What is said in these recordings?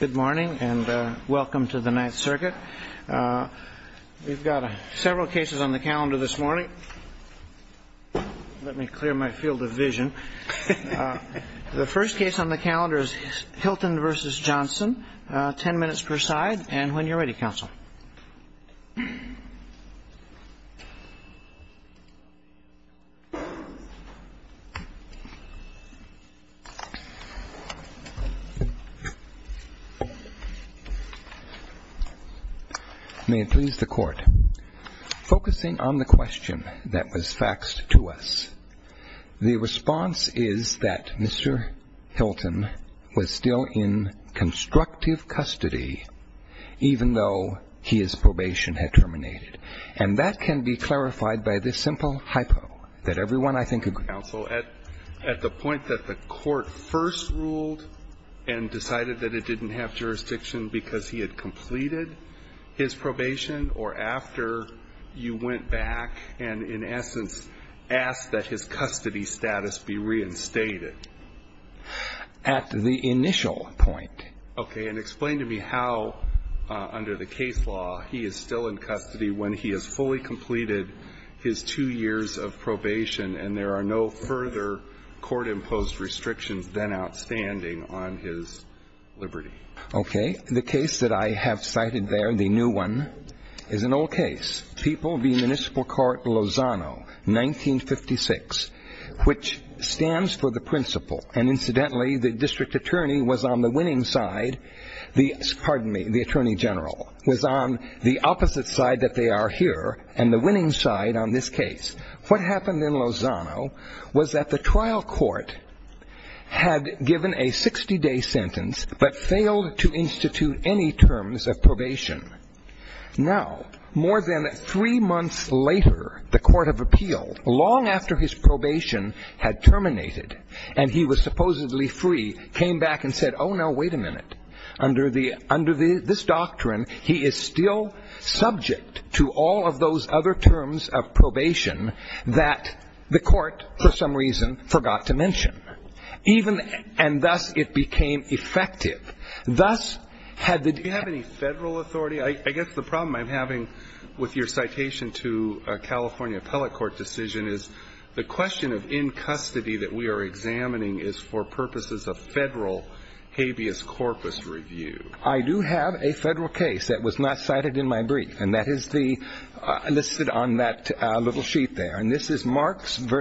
Good morning and welcome to the Ninth Circuit. We've got several cases on the calendar this May it please the Court. Focusing on the question that was faxed to us, the response is that Mr. Hilton was still in constructive custody even though his probation had terminated. And that can be clarified by this simple hypo that everyone, I think, agrees with. Counsel, at the point that the Court first ruled and decided that it didn't have jurisdiction because he had completed his probation or after you went back and in essence asked that his custody status be reinstated. At the initial point. Okay, and explain to me how under the case law he is still in custody when he has fully completed his two years of probation and there are no further court imposed restrictions than outstanding on his liberty. Okay, the case that I have cited there, the new one, is an old case. People Lozano, 1956, which stands for the principal and incidentally the District Attorney was on the winning side, pardon me, the Attorney General, was on the opposite side that they are here and the winning side on this case. What happened in Lozano was that the trial court had given a 60 day sentence but failed to institute any terms of probation. Now, more than three months later, the Court of Appeal, long after his probation had terminated and he was supposedly free, came back and said, oh no, wait a minute, under this doctrine he is still subject to all of those other terms of probation that the Court, for some reason, forgot to mention. Even, and thus it became effective. Thus, had the. Do you have any federal authority? I guess the problem I'm having with your citation to a California Appellate Court decision is the question of in custody that we are examining is for purposes of federal habeas corpus review. I do have a federal case that was not cited in my brief and that is the, listed on that little sheet there, and this is Marks v.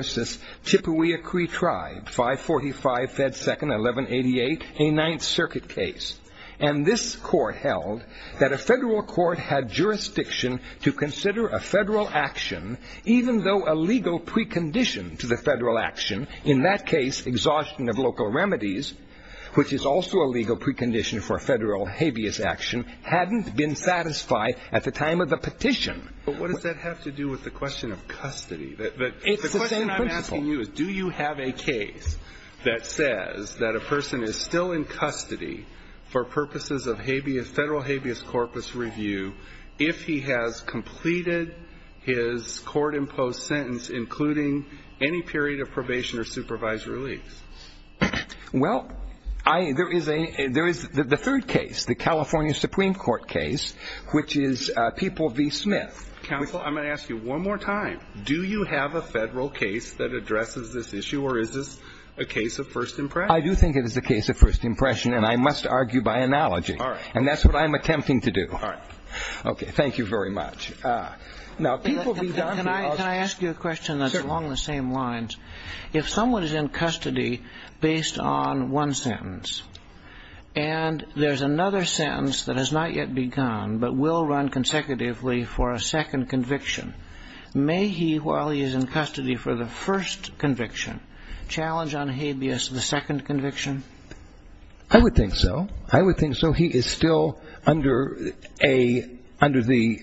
Chippewia Cree Tribe, 545 Fed 2nd, 1188, a Ninth Circuit case. And this court held that a federal court had jurisdiction to consider a federal action even though a legal precondition to the federal action, in that case exhaustion of local remedies, which is also a legal precondition for a federal habeas action, hadn't been satisfied at the time of the petition. But what does that have to do with the question of custody? The question I'm asking you is do you have a case that says that a person is still in custody for purposes of habeas, federal habeas corpus review if he has completed his court imposed sentence including any period of probation or supervised release? Well, I, there is a, there is the third case, the California Supreme Court case, which is People v. Smith. Counsel, I'm going to ask you one more time. Do you have a federal case that addresses this issue, or is this a case of first impression? I do think it is a case of first impression, and I must argue by analogy. All right. And that's what I'm attempting to do. All right. Okay. Thank you very much. Now, People v. Donahue, I'll just Can I ask you a question that's along the same lines? If someone is in custody based on one sentence, and there's another sentence that has not yet begun but will run consecutively for a second conviction, may he, while he is in custody for the first conviction, challenge on habeas the second conviction? I would think so. I would think so. He is still under a, under the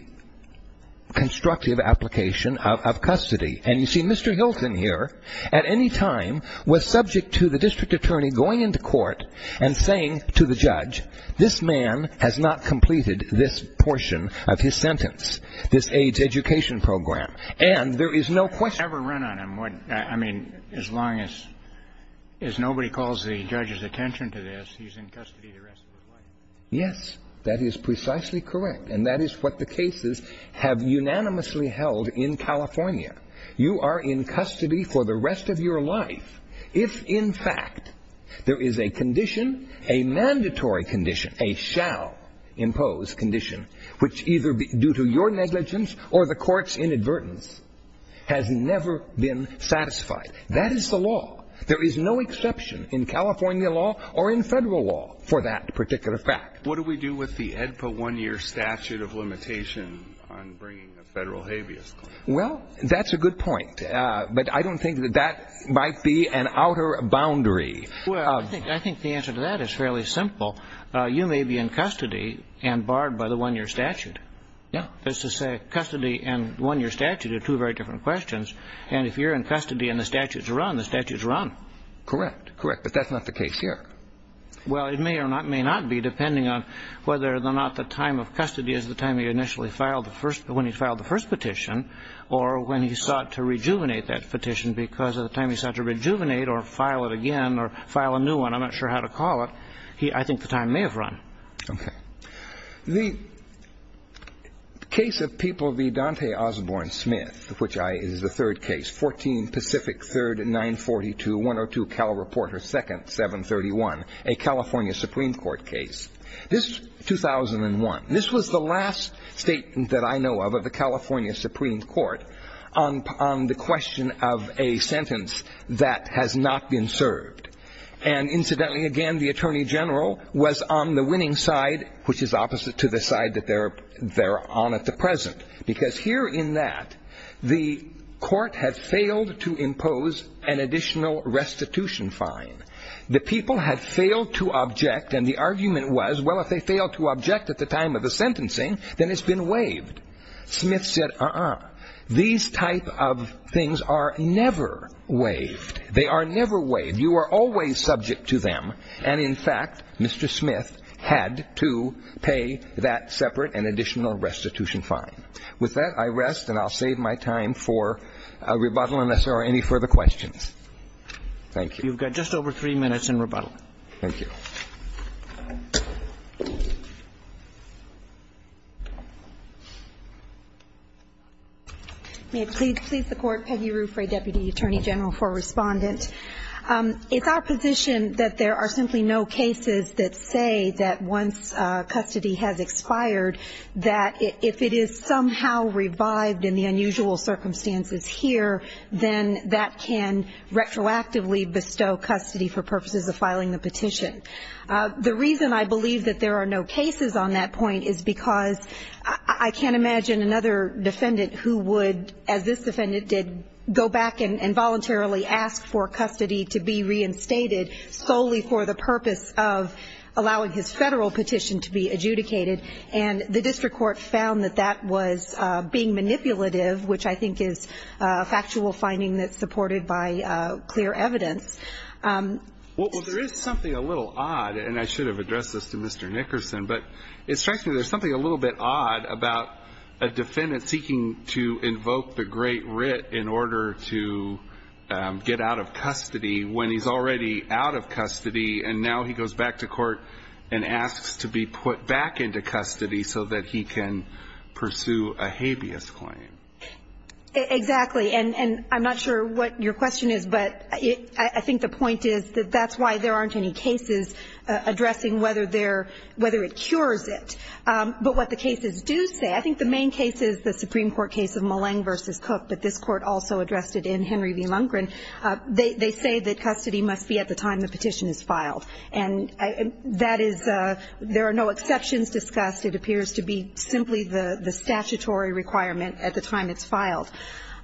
constructive application of custody. And you see, Mr. Hilton here at any time was subject to the district attorney going into court and saying to the judge, this man has not completed this portion of his sentence, this AIDS education program. And there is no question Has he ever run on him? I mean, as long as, as nobody calls the judge's attention to this, he's in custody the rest of his life. Yes. That is precisely correct. And that is what the cases have unanimously held in California. You are in custody for the rest of your life if, in fact, there is a condition, a mandatory condition, a shall-imposed condition, which either due to your negligence or the court's inadvertence has never been satisfied. That is the law. There is no exception in California law or in Federal law for that particular fact. What do we do with the AEDPA one-year statute of limitation on bringing a Federal habeas claim? Well, that's a good point. But I don't think that that might be an outer boundary. Well, I think the answer to that is fairly simple. You may be in custody and barred by the one-year statute. That's to say, custody and one-year statute are two very different questions. And if you're in custody and the statute's run, the statute's run. Correct. Correct. But that's not the case here. Well, it may or may not be, depending on whether or not the time of custody is the time he initially filed the first, when he filed the first petition, or when he sought to rejuvenate that petition because of the time he sought to rejuvenate, or file it again, or file a new one. I'm not sure how to call it. I think the time may have run. The case of people v. Dante Osborne Smith, which is the third case, 14 Pacific 3rd, 942, 102 Cal Report, or 2nd, 731, a California Supreme Court case. This is 2001. This was the last statement that I know of, of the California Supreme Court, on the question of a sentence that has not been served. And incidentally, again, the Attorney General was on the winning side, which is opposite to the side that they're on at the present. Because here in that, the court had failed to impose an additional restitution fine. The people had failed to object, and the argument was, well, if they failed to object at the time of the sentencing, then it's been waived. Smith said, uh-uh. These type of things are never waived. They are never waived. You are always subject to them. And in fact, Mr. Smith had to pay that separate and additional restitution fine. With that, I rest, and I'll save my time for rebuttal unless there are any further questions. Thank you. You've got just over three minutes in rebuttal. Thank you. May it please the Court. Peggy Rufray, Deputy Attorney General for Respondent. It's our position that there are simply no cases that say that once custody has expired that if it is somehow revived in the unusual circumstances here, then that can retroactively bestow custody for purposes of filing the petition. The reason I believe that there are no cases on that point is because I can't imagine another defendant who would, as this defendant did, go back and voluntarily ask for custody to be reinstated solely for the purpose of allowing his federal petition to be adjudicated. And the district court found that that was being manipulative, which I think is a factual finding that's supported by clear evidence. Well, there is something a little odd, and I should have addressed this to Mr. Nickerson, but it strikes me there's something a little bit odd about a defendant seeking to invoke the Great Writ in order to get out of custody when he's already out of custody, and now he goes back to court and asks to be put back into custody so that he can pursue a habeas claim. Exactly. And I'm not sure what your question is, but I think the point is that that's why there aren't any cases addressing whether there – whether it cures it. But what the cases do say – I think the main case is the Supreme Court case of Mullang v. Cook, but this Court also addressed it in Henry v. Lundgren. They say that custody must be at the time the petition is filed. And that is – there are no exceptions to that. And as we just discussed, it appears to be simply the statutory requirement at the time it's filed.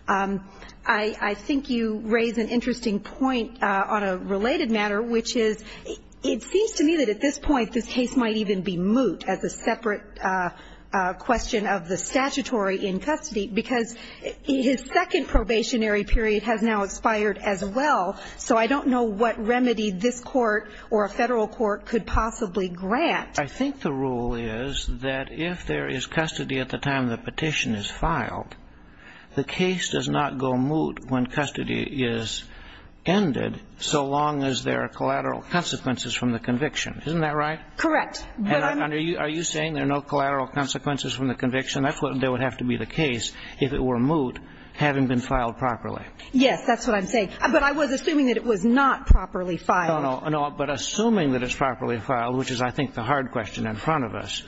I think you raise an interesting point on a related matter, which is it seems to me that at this point this case might even be moot as a separate question of the statutory in custody, because his second probationary period has now expired as well. So I don't know what remedy this Court or a federal court could possibly grant. I think the rule is that if there is custody at the time the petition is filed, the case does not go moot when custody is ended so long as there are collateral consequences from the conviction. Isn't that right? Correct. And are you saying there are no collateral consequences from the conviction? That's what would have to be the case if it were moot, having been filed properly. Yes, that's what I'm saying. But I was assuming that it was not properly filed. No, no. But assuming that it's properly filed, which is, I think, the hard question in front of us,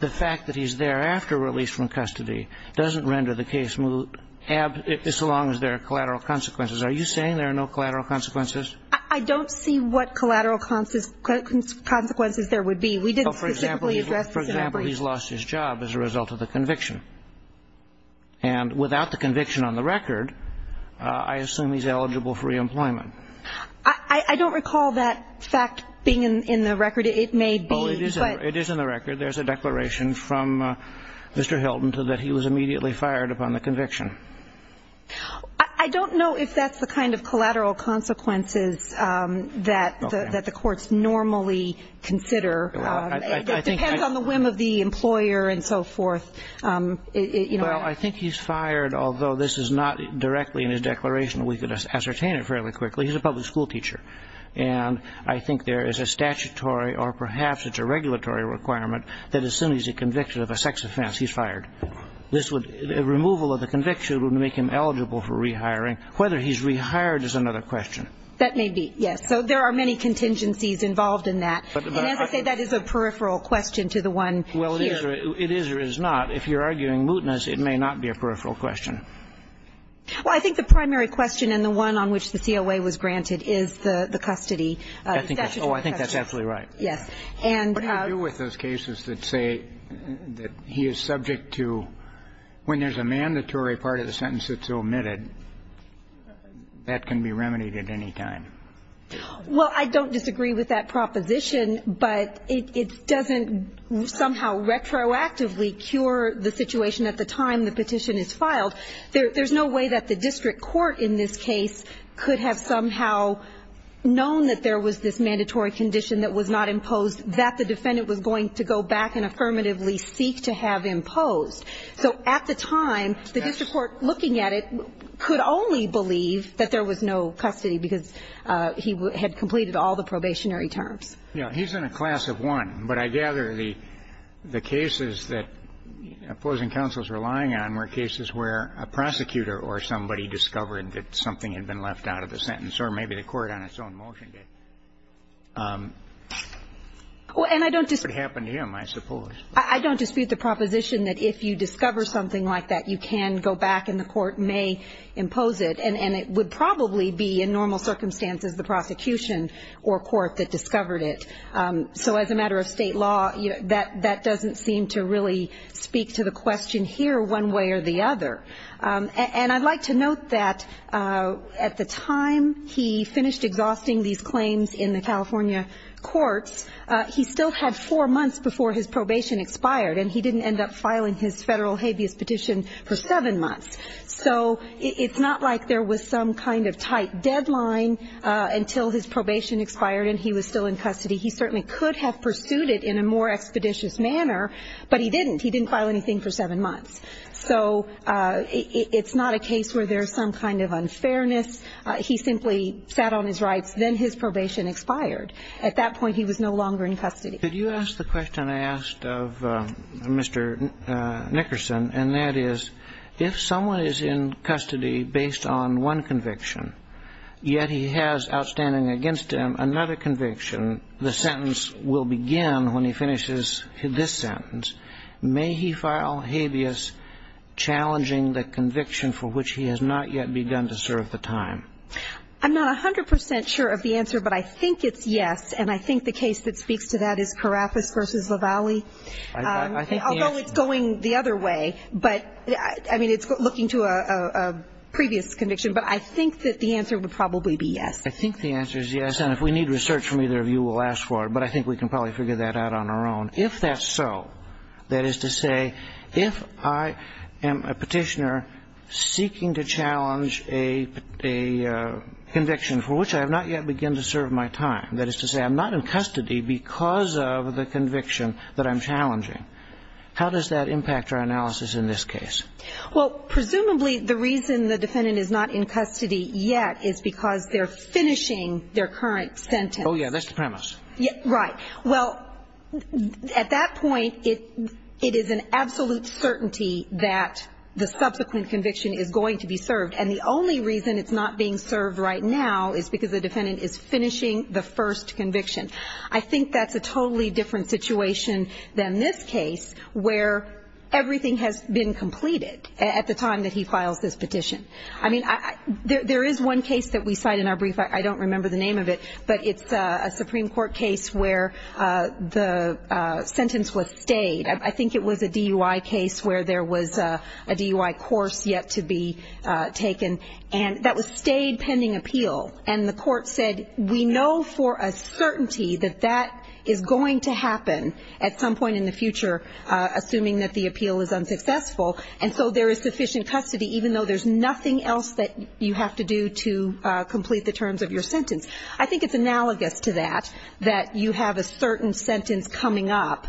the fact that he's thereafter released from custody doesn't render the case moot as long as there are collateral consequences. Are you saying there are no collateral consequences? I don't see what collateral consequences there would be. We didn't specifically address this in our brief. Well, for example, he's lost his job as a result of the conviction. And without the conviction on the record, I assume he's eligible for reemployment. I don't recall that fact being in the record. It may be. It is in the record. There's a declaration from Mr. Hilton that he was immediately fired upon the conviction. I don't know if that's the kind of collateral consequences that the courts normally consider. It depends on the whim of the employer and so forth. Well, I think he's fired, although this is not directly in his declaration. We could ascertain it fairly quickly. He's a public school teacher. And I think there is a statutory or perhaps it's a regulatory requirement that as soon as he's convicted of a sex offense, he's fired. A removal of the conviction would make him eligible for rehiring. Whether he's rehired is another question. That may be, yes. So there are many contingencies involved in that. And as I say, that is a peripheral question to the one here. Well, it is or is not. If you're arguing mootness, it may not be a peripheral question. Well, I think the primary question and the one on which the COA was granted is the custody. Oh, I think that's absolutely right. Yes. What do you do with those cases that say that he is subject to, when there's a mandatory part of the sentence that's omitted, that can be remedied at any time? Well, I don't disagree with that proposition, but it doesn't somehow retroactively cure the situation at the time the petition is filed. There's no way that the district court in this case could have somehow known that there was this mandatory condition that was not imposed that the defendant was going to go back and affirmatively seek to have imposed. So at the time, the district court, looking at it, could only believe that there was no custody because he had completed all the probationary terms. Yeah. He's in a class of one, but I gather the cases that opposing counsels were relying on were cases where a prosecutor or somebody discovered that something had been left out of the sentence, or maybe the court on its own motion did. And I don't dispute the proposition that if you discover something like that, you can go back and the court may impose it, and it would probably be in normal circumstances the prosecution or court that discovered it. So as a matter of state law, that doesn't seem to really speak to the question here one way or the other. And I'd like to note that at the time he finished exhausting these claims in the California courts, he still had four months before his probation expired, and he didn't end up filing his federal habeas petition for seven months. So it's not like there was some kind of tight deadline until his probation expired and he was still in custody. He certainly could have pursued it in a more expeditious manner, but he didn't. He didn't file anything for seven months. So it's not a case where there's some kind of unfairness. He simply sat on his rights. Then his probation expired. At that point, he was no longer in custody. Could you ask the question I asked of Mr. Nickerson, and that is, if someone is in custody based on one conviction, yet he has outstanding against him another conviction, the sentence will begin when he finishes this sentence. May he file habeas challenging the conviction for which he has not yet begun to serve the time? I'm not 100 percent sure of the answer, but I think it's yes, and I think the case that speaks to that is Karafis v. Lavallee, although it's going the other way. But, I mean, it's looking to a previous conviction, but I think that the answer would probably be yes. I think the answer is yes, and if we need research from either of you, we'll ask for it. But I think we can probably figure that out on our own. If that's so, that is to say, if I am a petitioner seeking to challenge a conviction for which I have not yet begun to serve my time, that is to say I'm not in custody because of the conviction that I'm challenging, how does that impact our analysis in this case? Well, presumably the reason the defendant is not in custody yet is because they're finishing their current sentence. Oh, yeah, that's the premise. Right. Well, at that point, it is an absolute certainty that the subsequent conviction is going to be served. And the only reason it's not being served right now is because the defendant is finishing the first conviction. I think that's a totally different situation than this case, where everything has been completed at the time that he files this petition. I mean, there is one case that we cite in our brief. I don't remember the name of it, but it's a Supreme Court case where the sentence was stayed. I think it was a DUI case where there was a DUI course yet to be taken, and that was stayed pending appeal. And the court said, we know for a certainty that that is going to happen at some point in the future, assuming that the appeal is unsuccessful. And so there is sufficient custody, even though there's nothing else that you have to do to complete the terms of your sentence. I think it's analogous to that, that you have a certain sentence coming up.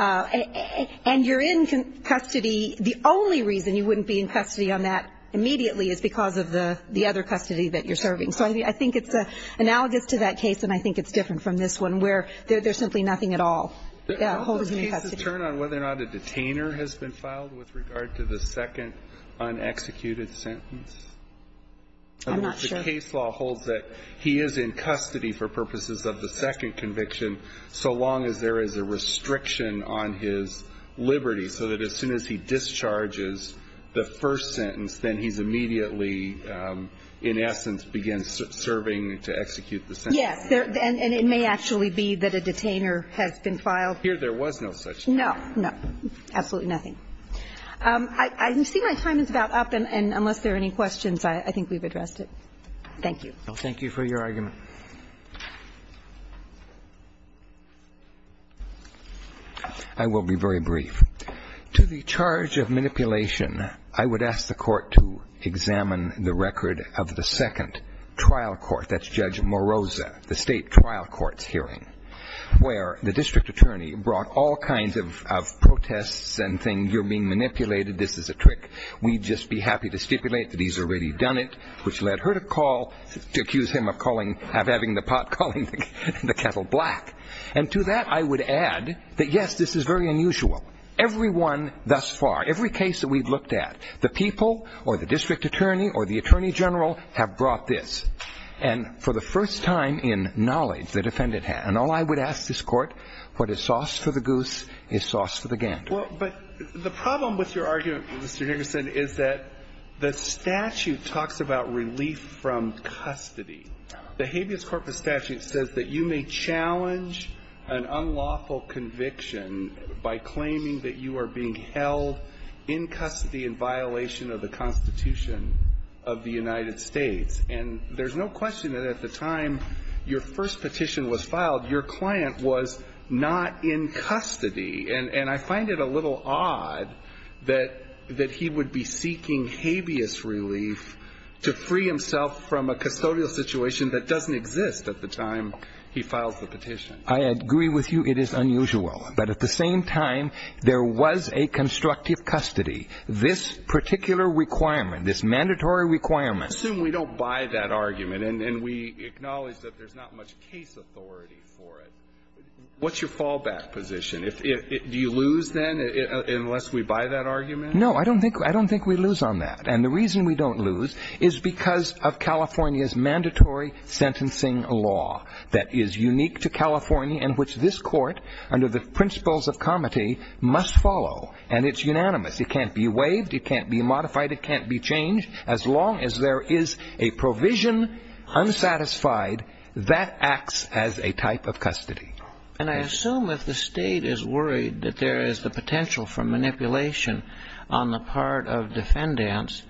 And you're in custody. The only reason you wouldn't be in custody on that immediately is because of the other custody that you're serving. So I think it's analogous to that case, and I think it's different from this one, where there's simply nothing at all that holds you in custody. Does the case's term on whether or not a detainer has been filed with regard to the second unexecuted sentence? I'm not sure. The case law holds that he is in custody for purposes of the second conviction, so long as there is a restriction on his liberty, so that as soon as he discharges the first sentence, then he's immediately, in essence, begins serving to execute the sentence. Yes. And it may actually be that a detainer has been filed. Here there was no such thing. No, no. Absolutely nothing. I see my time is about up, and unless there are any questions, I think we've addressed it. Thank you. Thank you for your argument. I will be very brief. To the charge of manipulation, I would ask the Court to examine the record of the second trial court, that's Judge Moroza, the State trial court's hearing, where the district attorney brought all kinds of protests and things. You're being manipulated. This is a trick. We'd just be happy to stipulate that he's already done it, which led her to call, to accuse him of having the pot calling the kettle black. And to that I would add that, yes, this is very unusual. Everyone thus far, every case that we've looked at, the people or the district attorney or the attorney general have brought this. And for the first time in knowledge, the defendant has. And all I would ask this Court, what is sauce for the goose is sauce for the gander. Well, but the problem with your argument, Mr. Higginson, is that the statute talks about relief from custody. The habeas corpus statute says that you may challenge an unlawful conviction by claiming that you are being held in custody in violation of the Constitution of the United States. And there's no question that at the time your first petition was filed, your client was not in custody. And I find it a little odd that he would be seeking habeas relief to free himself from a custodial situation that doesn't exist at the time he files the petition. I agree with you. It is unusual. But at the same time, there was a constructive custody. This particular requirement, this mandatory requirement. Let's assume we don't buy that argument and we acknowledge that there's not much case authority for it. What's your fallback position? Do you lose then unless we buy that argument? No, I don't think we lose on that. And the reason we don't lose is because of California's mandatory sentencing law that is unique to California and which this Court, under the principles of comity, must follow. And it's unanimous. It can't be waived. It can't be modified. It can't be changed. As long as there is a provision unsatisfied, that acts as a type of custody. And I assume if the State is worried that there is the potential for manipulation on the part of defendants,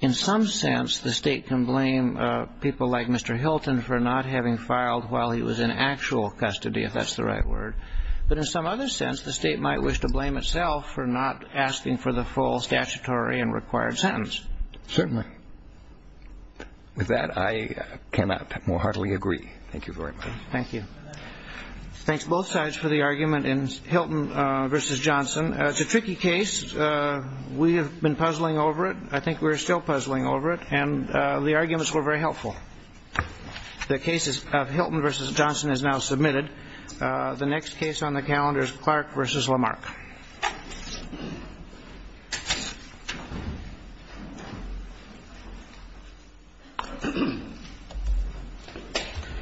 in some sense, the State can blame people like Mr. Hilton for not having filed while he was in actual custody, if that's the right word. But in some other sense, the State might wish to blame itself for not asking for the full statutory and required sentence. Certainly. With that, I cannot more heartily agree. Thank you very much. Thank you. Thanks, both sides, for the argument in Hilton v. Johnson. It's a tricky case. We have been puzzling over it. I think we're still puzzling over it. And the arguments were very helpful. The cases of Hilton v. Johnson is now submitted. The next case on the calendar is Clark v. Lamarck. Thank you.